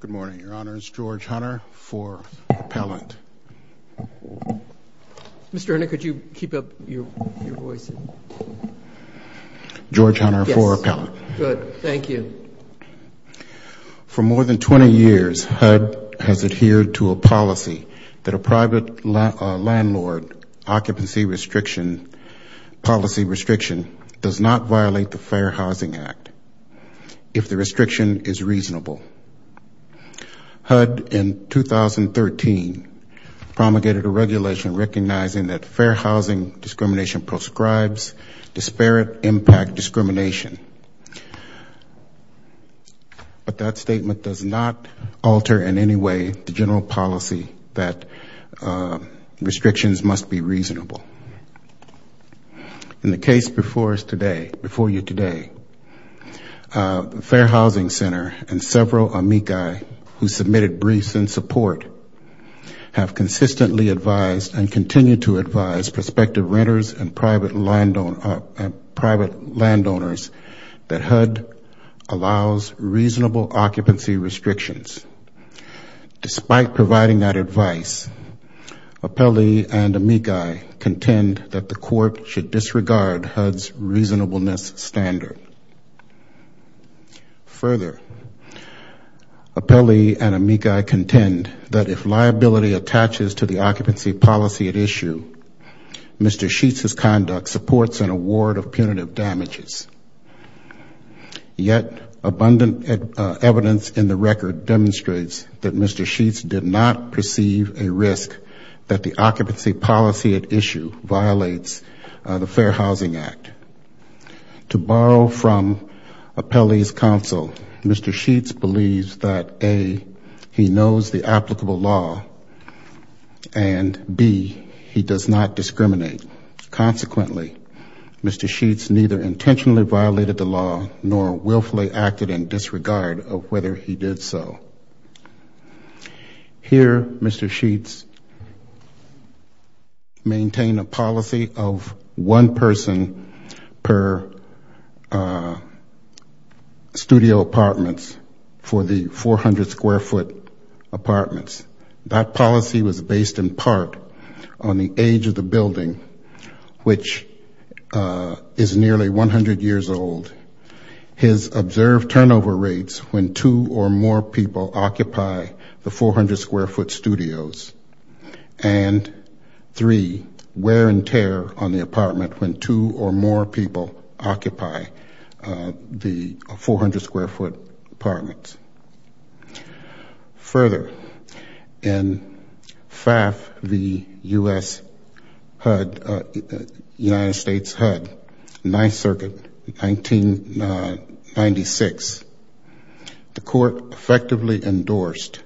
Good morning. Your Honor, it's George Hunter for Appellant. Mr. Hunter, could you keep up your voice? George Hunter for Appellant. Good. Thank you. For more than 20 years, HUD has adhered to a policy that a private landlord occupancy restriction policy restriction does not violate the Fair Housing Act. If the restriction is reasonable. HUD in 2013 promulgated a regulation recognizing that fair housing discrimination prescribes disparate impact discrimination. But that statement does not alter in any way the general policy that restrictions must be reasonable. In the case before you today, the Fair Housing Center and several amici who submitted briefs in support have consistently advised and continue to advise prospective renters and private landowners that HUD allows reasonable occupancy restrictions. Despite providing that advice, Appelli and amici contend that the court should disregard HUD's reasonableness standard. Further, Appelli and amici contend that if liability attaches to the occupancy policy at issue, Mr. Scheetz's conduct supports an award of punitive damages. Yet, abundant evidence in the record demonstrates that Mr. Scheetz did not perceive a risk that the occupancy policy at issue violates the Fair Housing Act. To borrow from Appelli's counsel, Mr. Scheetz believes that A, he knows the applicable law, and B, he does not discriminate. Consequently, Mr. Scheetz neither intentionally violated the law nor willfully acted in disregard of whether he did so. Here, Mr. Scheetz maintained a policy of one person per studio apartments for the 400 square foot apartments. That policy was based in part on the age of the building, which is nearly 100 years old, his observed turnover rates when two or more people occupy the 400 square foot studios, and three, wear and tear on the apartment when two or more people occupy the 400 square foot apartments. Further, in FAF v. U.S. HUD, United States HUD, Ninth Circuit, 1996, the court effectively endorsed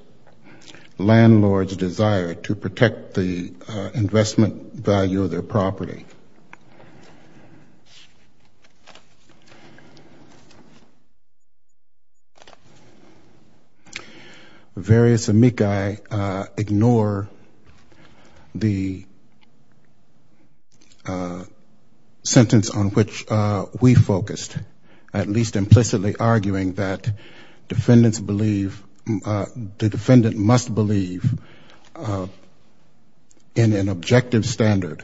landlords' desire to protect the investment value of their property. Various amici ignore the sentence on which we focused, at least implicitly arguing that defendants believe, the defendant must believe in an objective standard.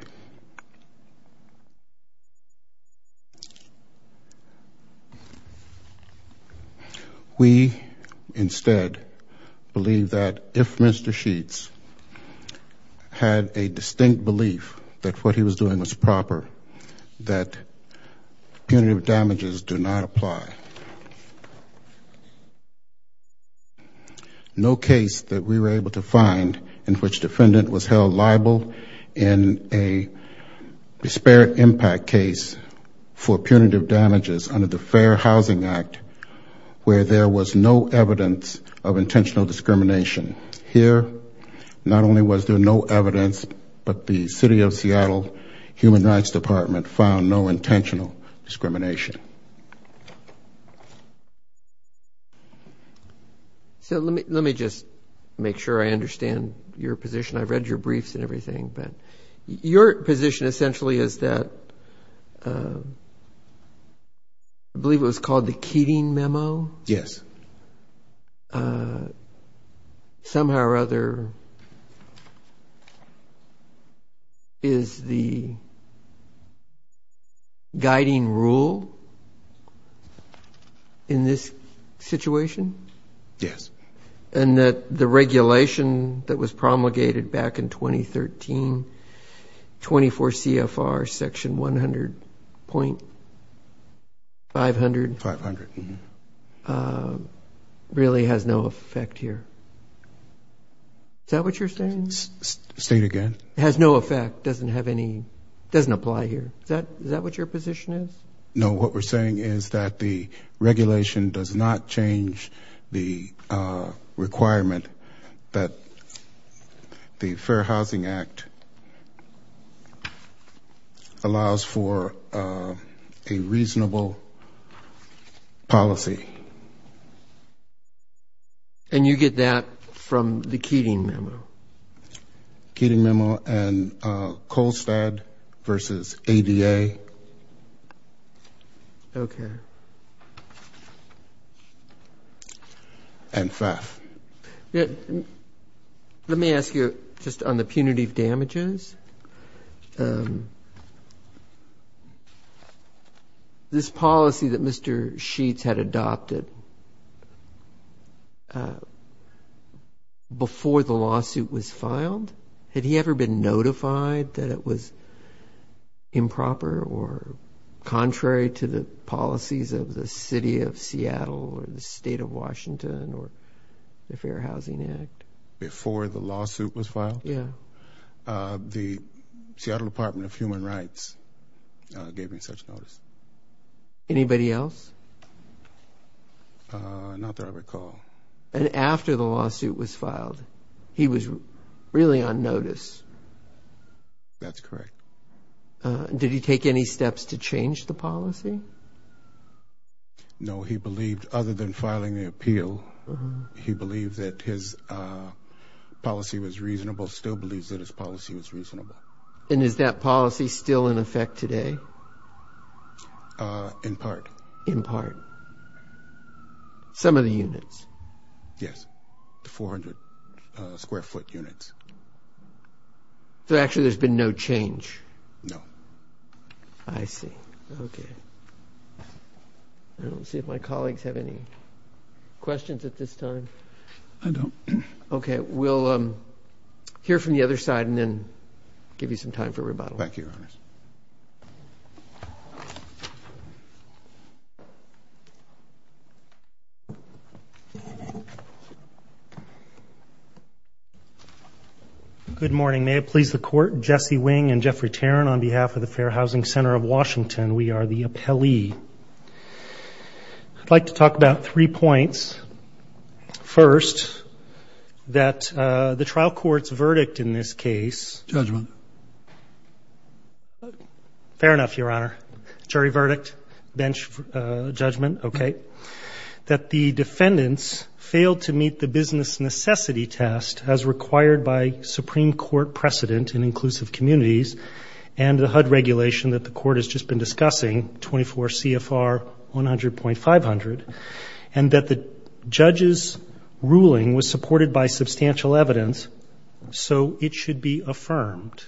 We, instead, believe that if Mr. Scheetz had a distinct belief that what he was doing was proper, that punitive damages do not apply. No case that we were able to find in which defendant was held liable in a disparate impact case for punitive damages under the Fair Housing Act, where there was no evidence of intentional discrimination. Here, not only was there no evidence, but the City of Seattle Human Rights Department found no intentional discrimination. So let me just make sure I understand your position. I've read your briefs and everything, but your position essentially is that, I believe it was called the Keating Memo? Yes. And somehow or other, is the guiding rule in this situation? Yes. And that the regulation that was promulgated back in 2013, 24 CFR section 100.500, really has nothing to do with that? Has no effect here. Is that what you're saying? State again. Has no effect, doesn't have any, doesn't apply here. Is that what your position is? No, what we're saying is that the regulation does not change the requirement that the Fair Housing Act allows for a reasonable policy. And you get that from the Keating Memo? Keating Memo and Kohlstad versus ADA. Okay. And FAF. Let me ask you just on the punitive damages. This policy that Mr. Sheets had adopted before the lawsuit was filed, had he ever been notified that it was improper or contrary to the policies of the City of Seattle or the State of Washington? The Fair Housing Act. Before the lawsuit was filed? Yes. The Seattle Department of Human Rights gave me such notice. Anybody else? Not that I recall. And after the lawsuit was filed, he was really on notice? That's correct. Did he take any steps to change the policy? No, he believed, other than filing the appeal, he believed that his policy was reasonable, still believes that his policy was reasonable. And is that policy still in effect today? In part. In part. Some of the units? Yes, the 400 square foot units. So actually there's been no change? No. I don't see if my colleagues have any questions at this time. I don't. Okay, we'll hear from the other side and then give you some time for rebuttal. Thank you, Your Honors. Good morning. May it please the Court. Jesse Wing and Jeffrey Tarrin on behalf of the Fair Housing Center of Washington. We are the appellee. I'd like to talk about three points. First, that the trial court's verdict in this case... Judgment. Fair enough, Your Honor. Jury verdict, bench judgment, okay. That the defendants failed to meet the business necessity test as required by Supreme Court precedent in inclusive communities and the HUD regulation that the Court has just been discussing, 24 CFR 100.500. And that the judge's ruling was supported by substantial evidence, so it should be affirmed.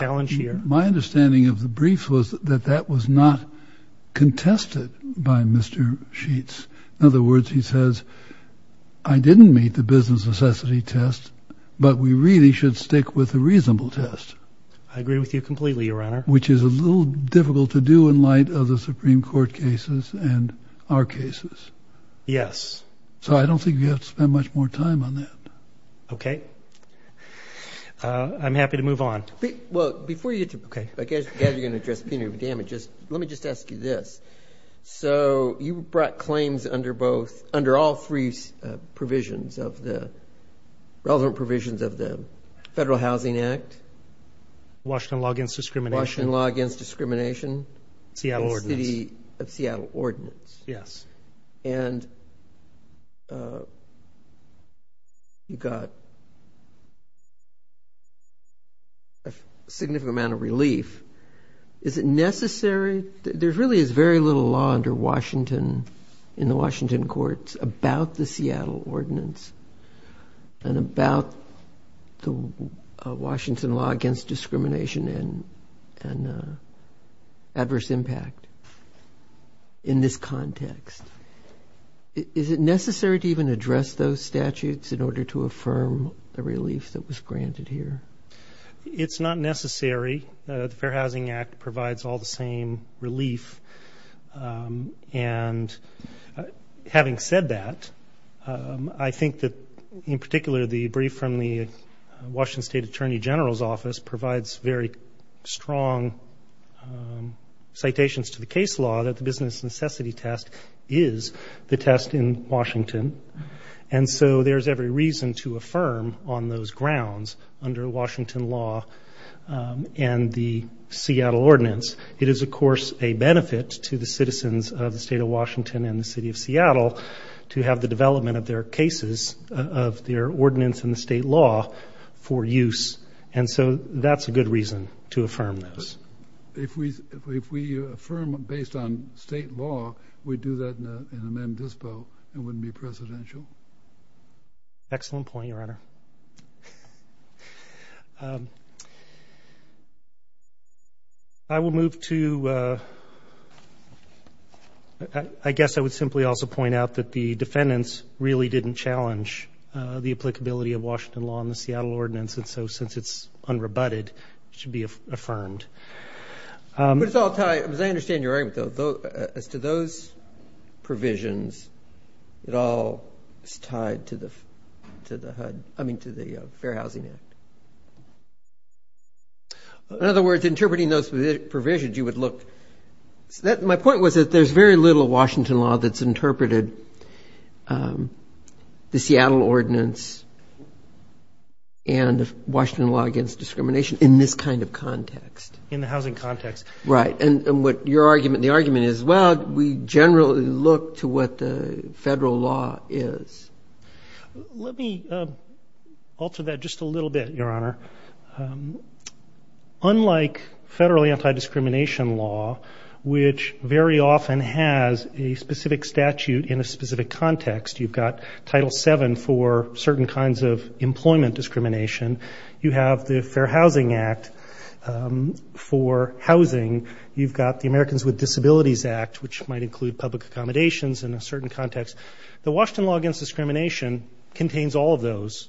My understanding of the brief was that that was not contested by Mr. Sheets. In other words, he says, I didn't meet the business necessity test, but we really should stick with the reasonable test. Which is a little difficult to do in light of the Supreme Court cases and our cases. Yes. So I don't think you have to spend much more time on that. Okay. I'm happy to move on. Well, before you get to... Okay. I guess you're going to address punitive damages. Let me just ask you this. So you brought claims under both, under all three provisions of the, relevant provisions of the Federal Housing Act. Washington Law Against Discrimination. Seattle Ordinance. And you got a significant amount of relief. Is it necessary? There really is very little law under Washington, in the Washington courts, about the Seattle Ordinance. And about the Washington Law Against Discrimination and adverse impact in this context. Is it necessary to even address those statutes in order to affirm the relief that was granted here? It's not necessary. The Fair Housing Act provides all the same relief. And having said that, I think that in particular the brief from the Washington State Attorney General's office provides very strong citations to the case law that the business necessity test is the test in Washington. And so there's every reason to affirm on those grounds under Washington law and the Seattle Ordinance. It is of course a benefit to the citizens of the state of Washington and the city of Seattle to have the development of their cases, of their ordinance in the state law for use. And so that's a good reason to affirm those. If we affirm based on state law, we do that in an indispo and wouldn't be presidential? Excellent point, Your Honor. I will move to I guess I would simply also point out that the defendants really didn't challenge the applicability of Washington law and the Seattle Ordinance. And so since it's unrebutted, it should be affirmed. As I understand your argument, as to those provisions, it all is tied to the Fair Housing Act. In other words, interpreting those provisions, you would look My point was that there's very little Washington law that's interpreted the Seattle Ordinance and Washington law against discrimination in this kind of context. In the housing context. Right. And the argument is, well, we generally look to what the federal law is. Let me alter that just a little bit, Your Honor. Unlike federally anti-discrimination law, which very often has a specific statute in a specific context. You've got Title 7 for certain kinds of employment discrimination. You have the Fair Housing Act for housing. You've got the Americans with Disabilities Act, which might include public accommodations in a certain context. The Washington law against discrimination contains all of those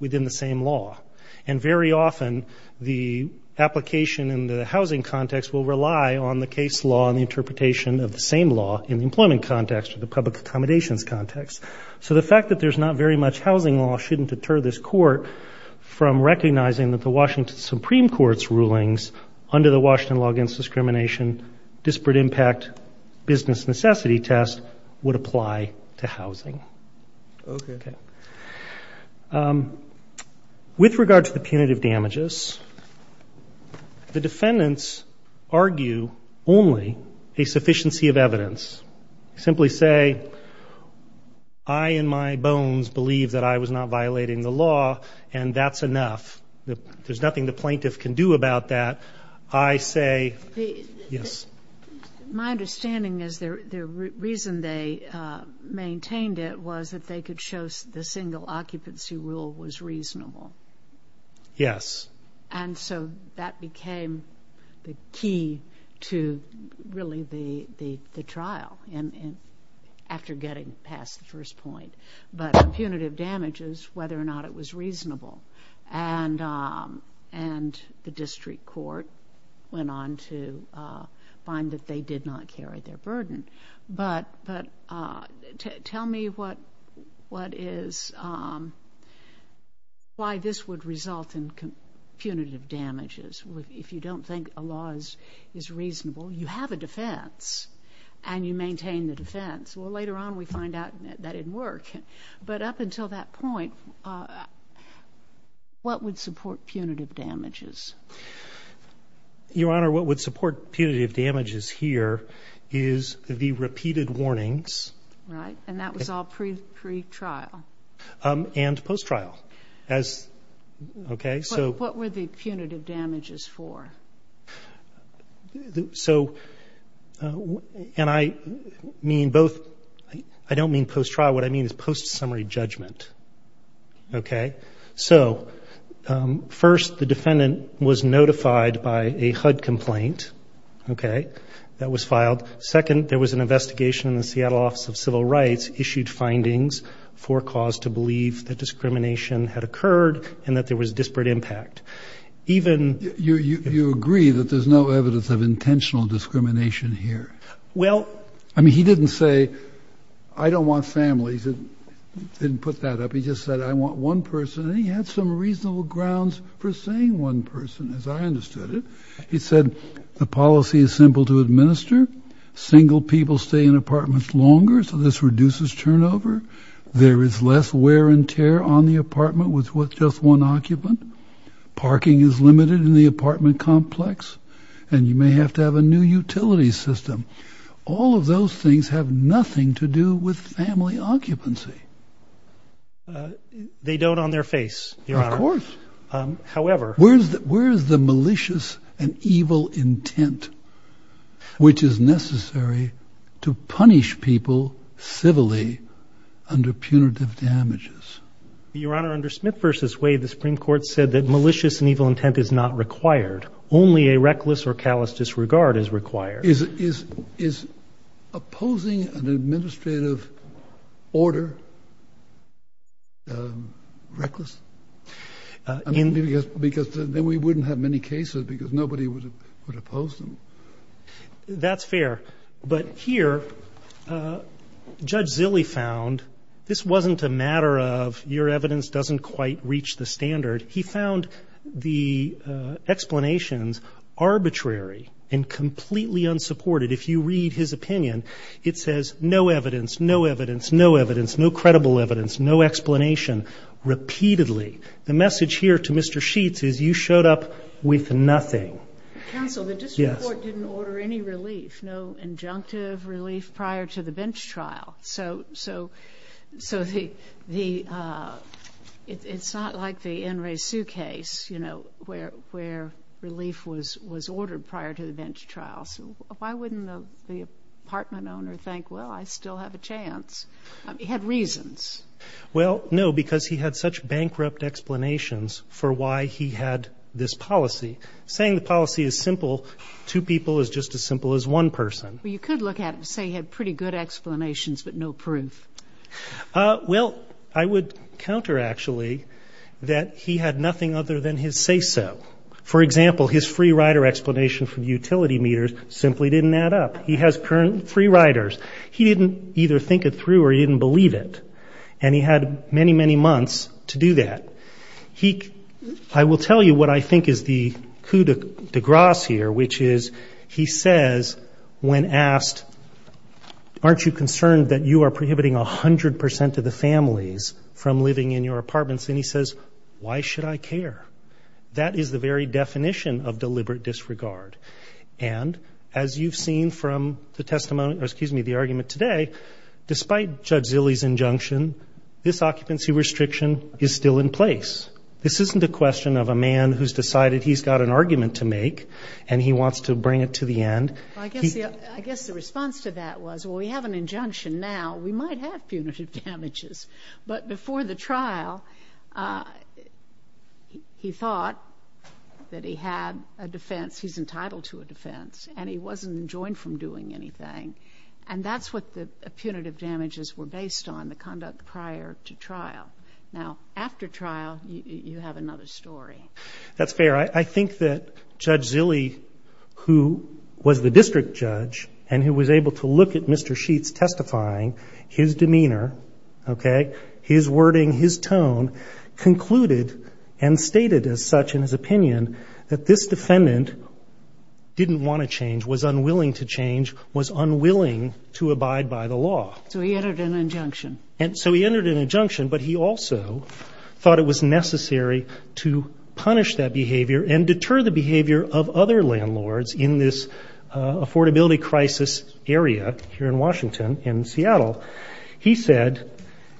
within the same law. And very often, the application in the housing context will rely on the case law and the interpretation of the same law in the employment context or the public accommodations context. So the fact that there's not very much housing law shouldn't deter this court from recognizing that the Washington Supreme Court's rulings under the Washington law against discrimination disparate impact business necessity test would apply to housing. With regard to the punitive damages, the defendants argue only a sufficiency of evidence. Simply say, I in my bones believe that I was not violating the law and that's enough. There's nothing the plaintiff can do about that. My understanding is the reason they maintained it was that they could show the single occupancy rule was reasonable. And so that became the key to really the trial after getting past the first point. But the punitive damages, whether or not it was reasonable. And the district court went on to find that they did not carry their burden. But tell me what is why this would result in punitive damages if you don't think a law is reasonable. You have a defense and you maintain the defense. Well, later on, we find out that didn't work. But up until that point, what would support punitive damages? Your Honor, what would support punitive damages here is the repeated warnings. Right. And that was all pre-trial. And post-trial. What were the punitive damages for? So, and I mean both I don't mean post-trial. What I mean is post-summary judgment. Okay. So, first, the defendant was notified by a HUD complaint. Okay. That was filed. Second, there was an investigation in the Seattle Office of Civil Rights issued findings for cause to believe that discrimination had occurred and that there was disparate impact. You agree that there's no evidence of intentional discrimination here. Well, I mean, he didn't say, I don't want families. He didn't put that up. He just said, I want one person. And he had some reasonable grounds for saying one person, as I understood it. He said, the policy is simple to administer. Single people stay in apartments longer, so this reduces turnover. There is less wear and tear on the apartment with just one occupant. Parking is limited in the apartment complex. And you may have to have a new utility system. All of those things have nothing to do with family occupancy. They don't on their face, Your Honor. Of course. However... Where is the malicious and evil intent which is necessary to punish people civilly under punitive damages? Your Honor, under Smith v. Wade, the Supreme Court said that malicious and evil intent is not required. Only a reckless or callous disregard is required. Is opposing an administrative order reckless? Because then we wouldn't have many cases because nobody would oppose them. That's fair. But here, Judge Zille found this wasn't a matter of your evidence doesn't quite reach the standard. He found the explanations arbitrary and completely unsupported. If you read his opinion, it says no evidence, no evidence, no evidence, no credible evidence, no explanation repeatedly. The message here to Mr. Sheets is you showed up with nothing. Counsel, the district court didn't order any relief. No injunctive relief prior to the bench trial. So the... It's not like the N. Ray Sue case, you know, where relief was ordered prior to the bench trial. Why wouldn't the apartment owner think, well, I still have a chance? He had reasons. Well, no, because he had such bankrupt explanations for why he had this policy. Saying the policy is simple to people is just as simple as one person. You could look at it and say he had pretty good explanations but no proof. Well, I would counter, actually, that he had nothing other than his say-so. For example, his free rider explanation for utility meters simply didn't add up. He has free riders. He didn't either think it through or he didn't believe it. And he had many, many months to do that. I will tell you what I think is the coup de grace here, which is he says when asked aren't you concerned that you are prohibiting 100% of the families from living in your apartments? And he says, why should I care? That is the very definition of deliberate disregard. And as you've seen from the argument today, despite Judge Zille's injunction, this occupancy restriction is still in place. This isn't a question of a man who's decided he's got an argument to make and he wants to bring it to the end. Well, I guess the response to that was, well, we have an injunction now. We might have punitive damages. But before the trial, he thought that he had a defense. He's entitled to a defense. And he wasn't enjoined from doing anything. And that's what the punitive damages were based on, the conduct prior to trial. Now, after trial, you have another story. That's fair. I think that Judge Zille, who was the district judge and who was able to look at Mr. Sheets' testifying, his demeanor, his wording, his tone, concluded and stated as such in his opinion that this defendant didn't want to change, was unwilling to change, was unwilling to abide by the law. So he entered an injunction. So he entered an injunction, but he also thought it was necessary to punish that behavior and deter the behavior of other landlords in this affordability crisis area here in Washington and Seattle. He said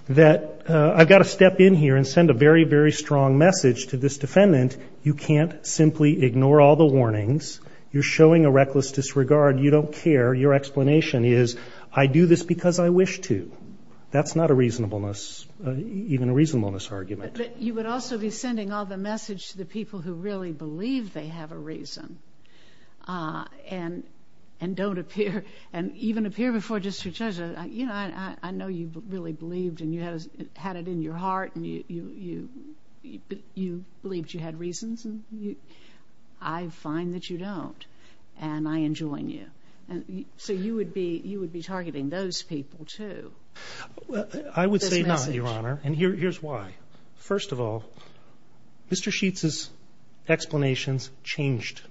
that I've got to step in here and send a very, very strong message to this defendant. You can't simply ignore all the warnings. You're showing a reckless disregard. You don't care. Your explanation is I do this because I wish to. That's not a reasonableness, even a reasonableness argument. But you would also be sending all the message to the people who really believe they have a reason and don't appear, and even appear before district judges, you know, I know you really believed and you had it in your heart and you believed you had reasons and I find that you don't and I enjoin you. So you would be targeting those people too. I would say not, Your Honor, and here's why. First of all, Mr. Sheets' explanations changed,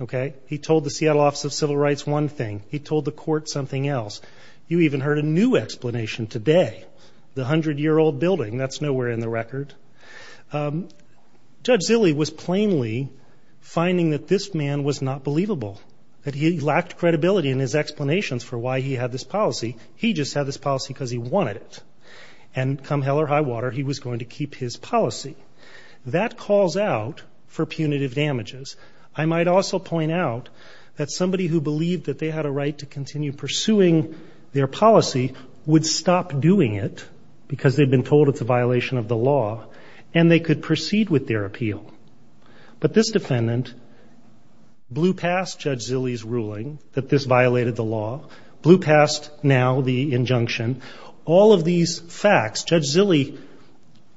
okay? He told the Seattle Office of Civil Rights one thing. He told the court something else. You even heard a new explanation today. The 100-year-old building, that's nowhere in the record. Judge Zille was plainly finding that this man was not believable, that he lacked credibility in his explanations for why he had this policy. He just had this policy because he wanted it. And come hell or high water, he was going to keep his policy. That calls out for punitive damages. I might also point out that somebody who believed that they had a right to continue pursuing their policy would stop doing it because they'd been told it's a violation of the law, and they could proceed with their appeal. But this defendant blew past Judge Zille's ruling that this violated the law, blew past now the facts. Judge Zille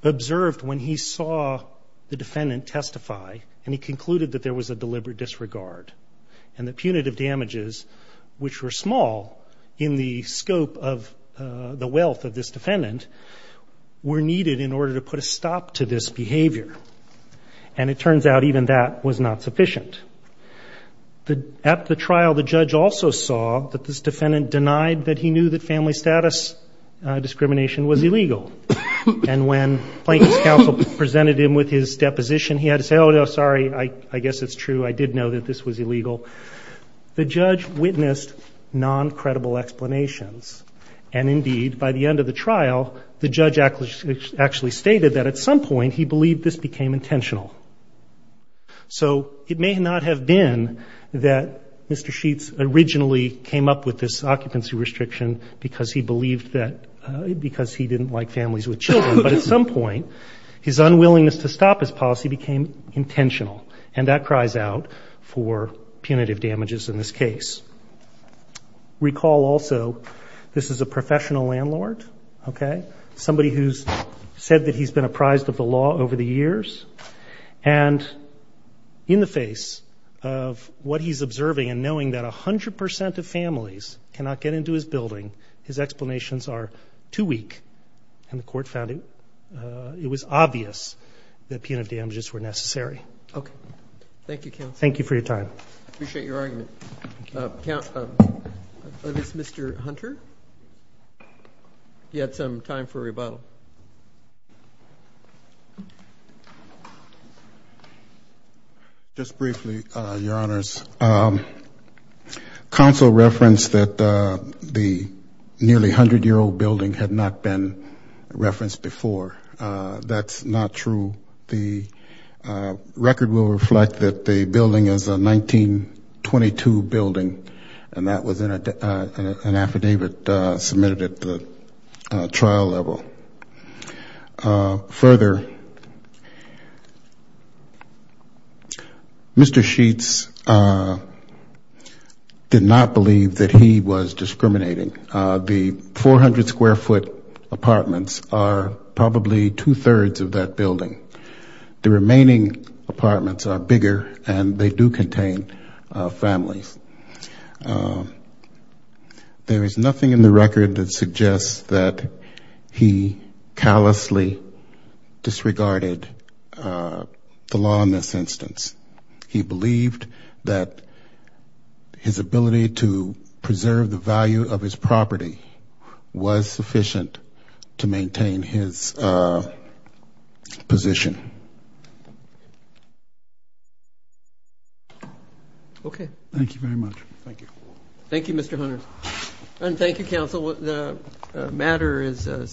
observed when he saw the defendant testify, and he concluded that there was a deliberate disregard. And the punitive damages, which were small in the scope of the wealth of this defendant, were needed in order to put a stop to this behavior. And it turns out even that was not sufficient. At the trial, the judge also saw that this defendant denied that he knew that family status discrimination was illegal. And when Plankton's counsel presented him with his deposition, he had to say, oh, no, sorry, I guess it's true. I did know that this was illegal. The judge witnessed non-credible explanations. And indeed, by the end of the trial, the judge actually stated that at some point he believed this became intentional. So it may not have been that Mr. Sheets originally came up with this occupancy restriction because he believed that, because he didn't like families with children. But at some point, his unwillingness to stop his policy became intentional. And that cries out for punitive damages in this case. Recall also this is a professional landlord, okay? Somebody who's said that he's been apprised of the law over the years. And in the face of what he's observing and knowing that 100% of families cannot get into his building, his explanations are too weak. And the court found it was obvious that punitive damages were necessary. Thank you for your time. Is this Mr. Hunter? He had some time for rebuttal. Just briefly, Your Honors. Counsel referenced that the nearly 100-year-old building had not been referenced before. That's not true. The record will reflect that the building is a 1922 building. And that was an affidavit submitted at the trial level. Further, Mr. Sheets did not believe that he was discriminating. The 400-square-foot apartments are probably two-thirds of that building. The remaining apartments are bigger, and they do contain families. There is nothing in the record that suggests that he callously disregarded the law in this instance. He believed that his ability to preserve the value of his property was sufficient to maintain his position. Okay. Thank you very much. Thank you. Thank you, Mr. Hunter. And thank you, Counsel. The matter is adjourned.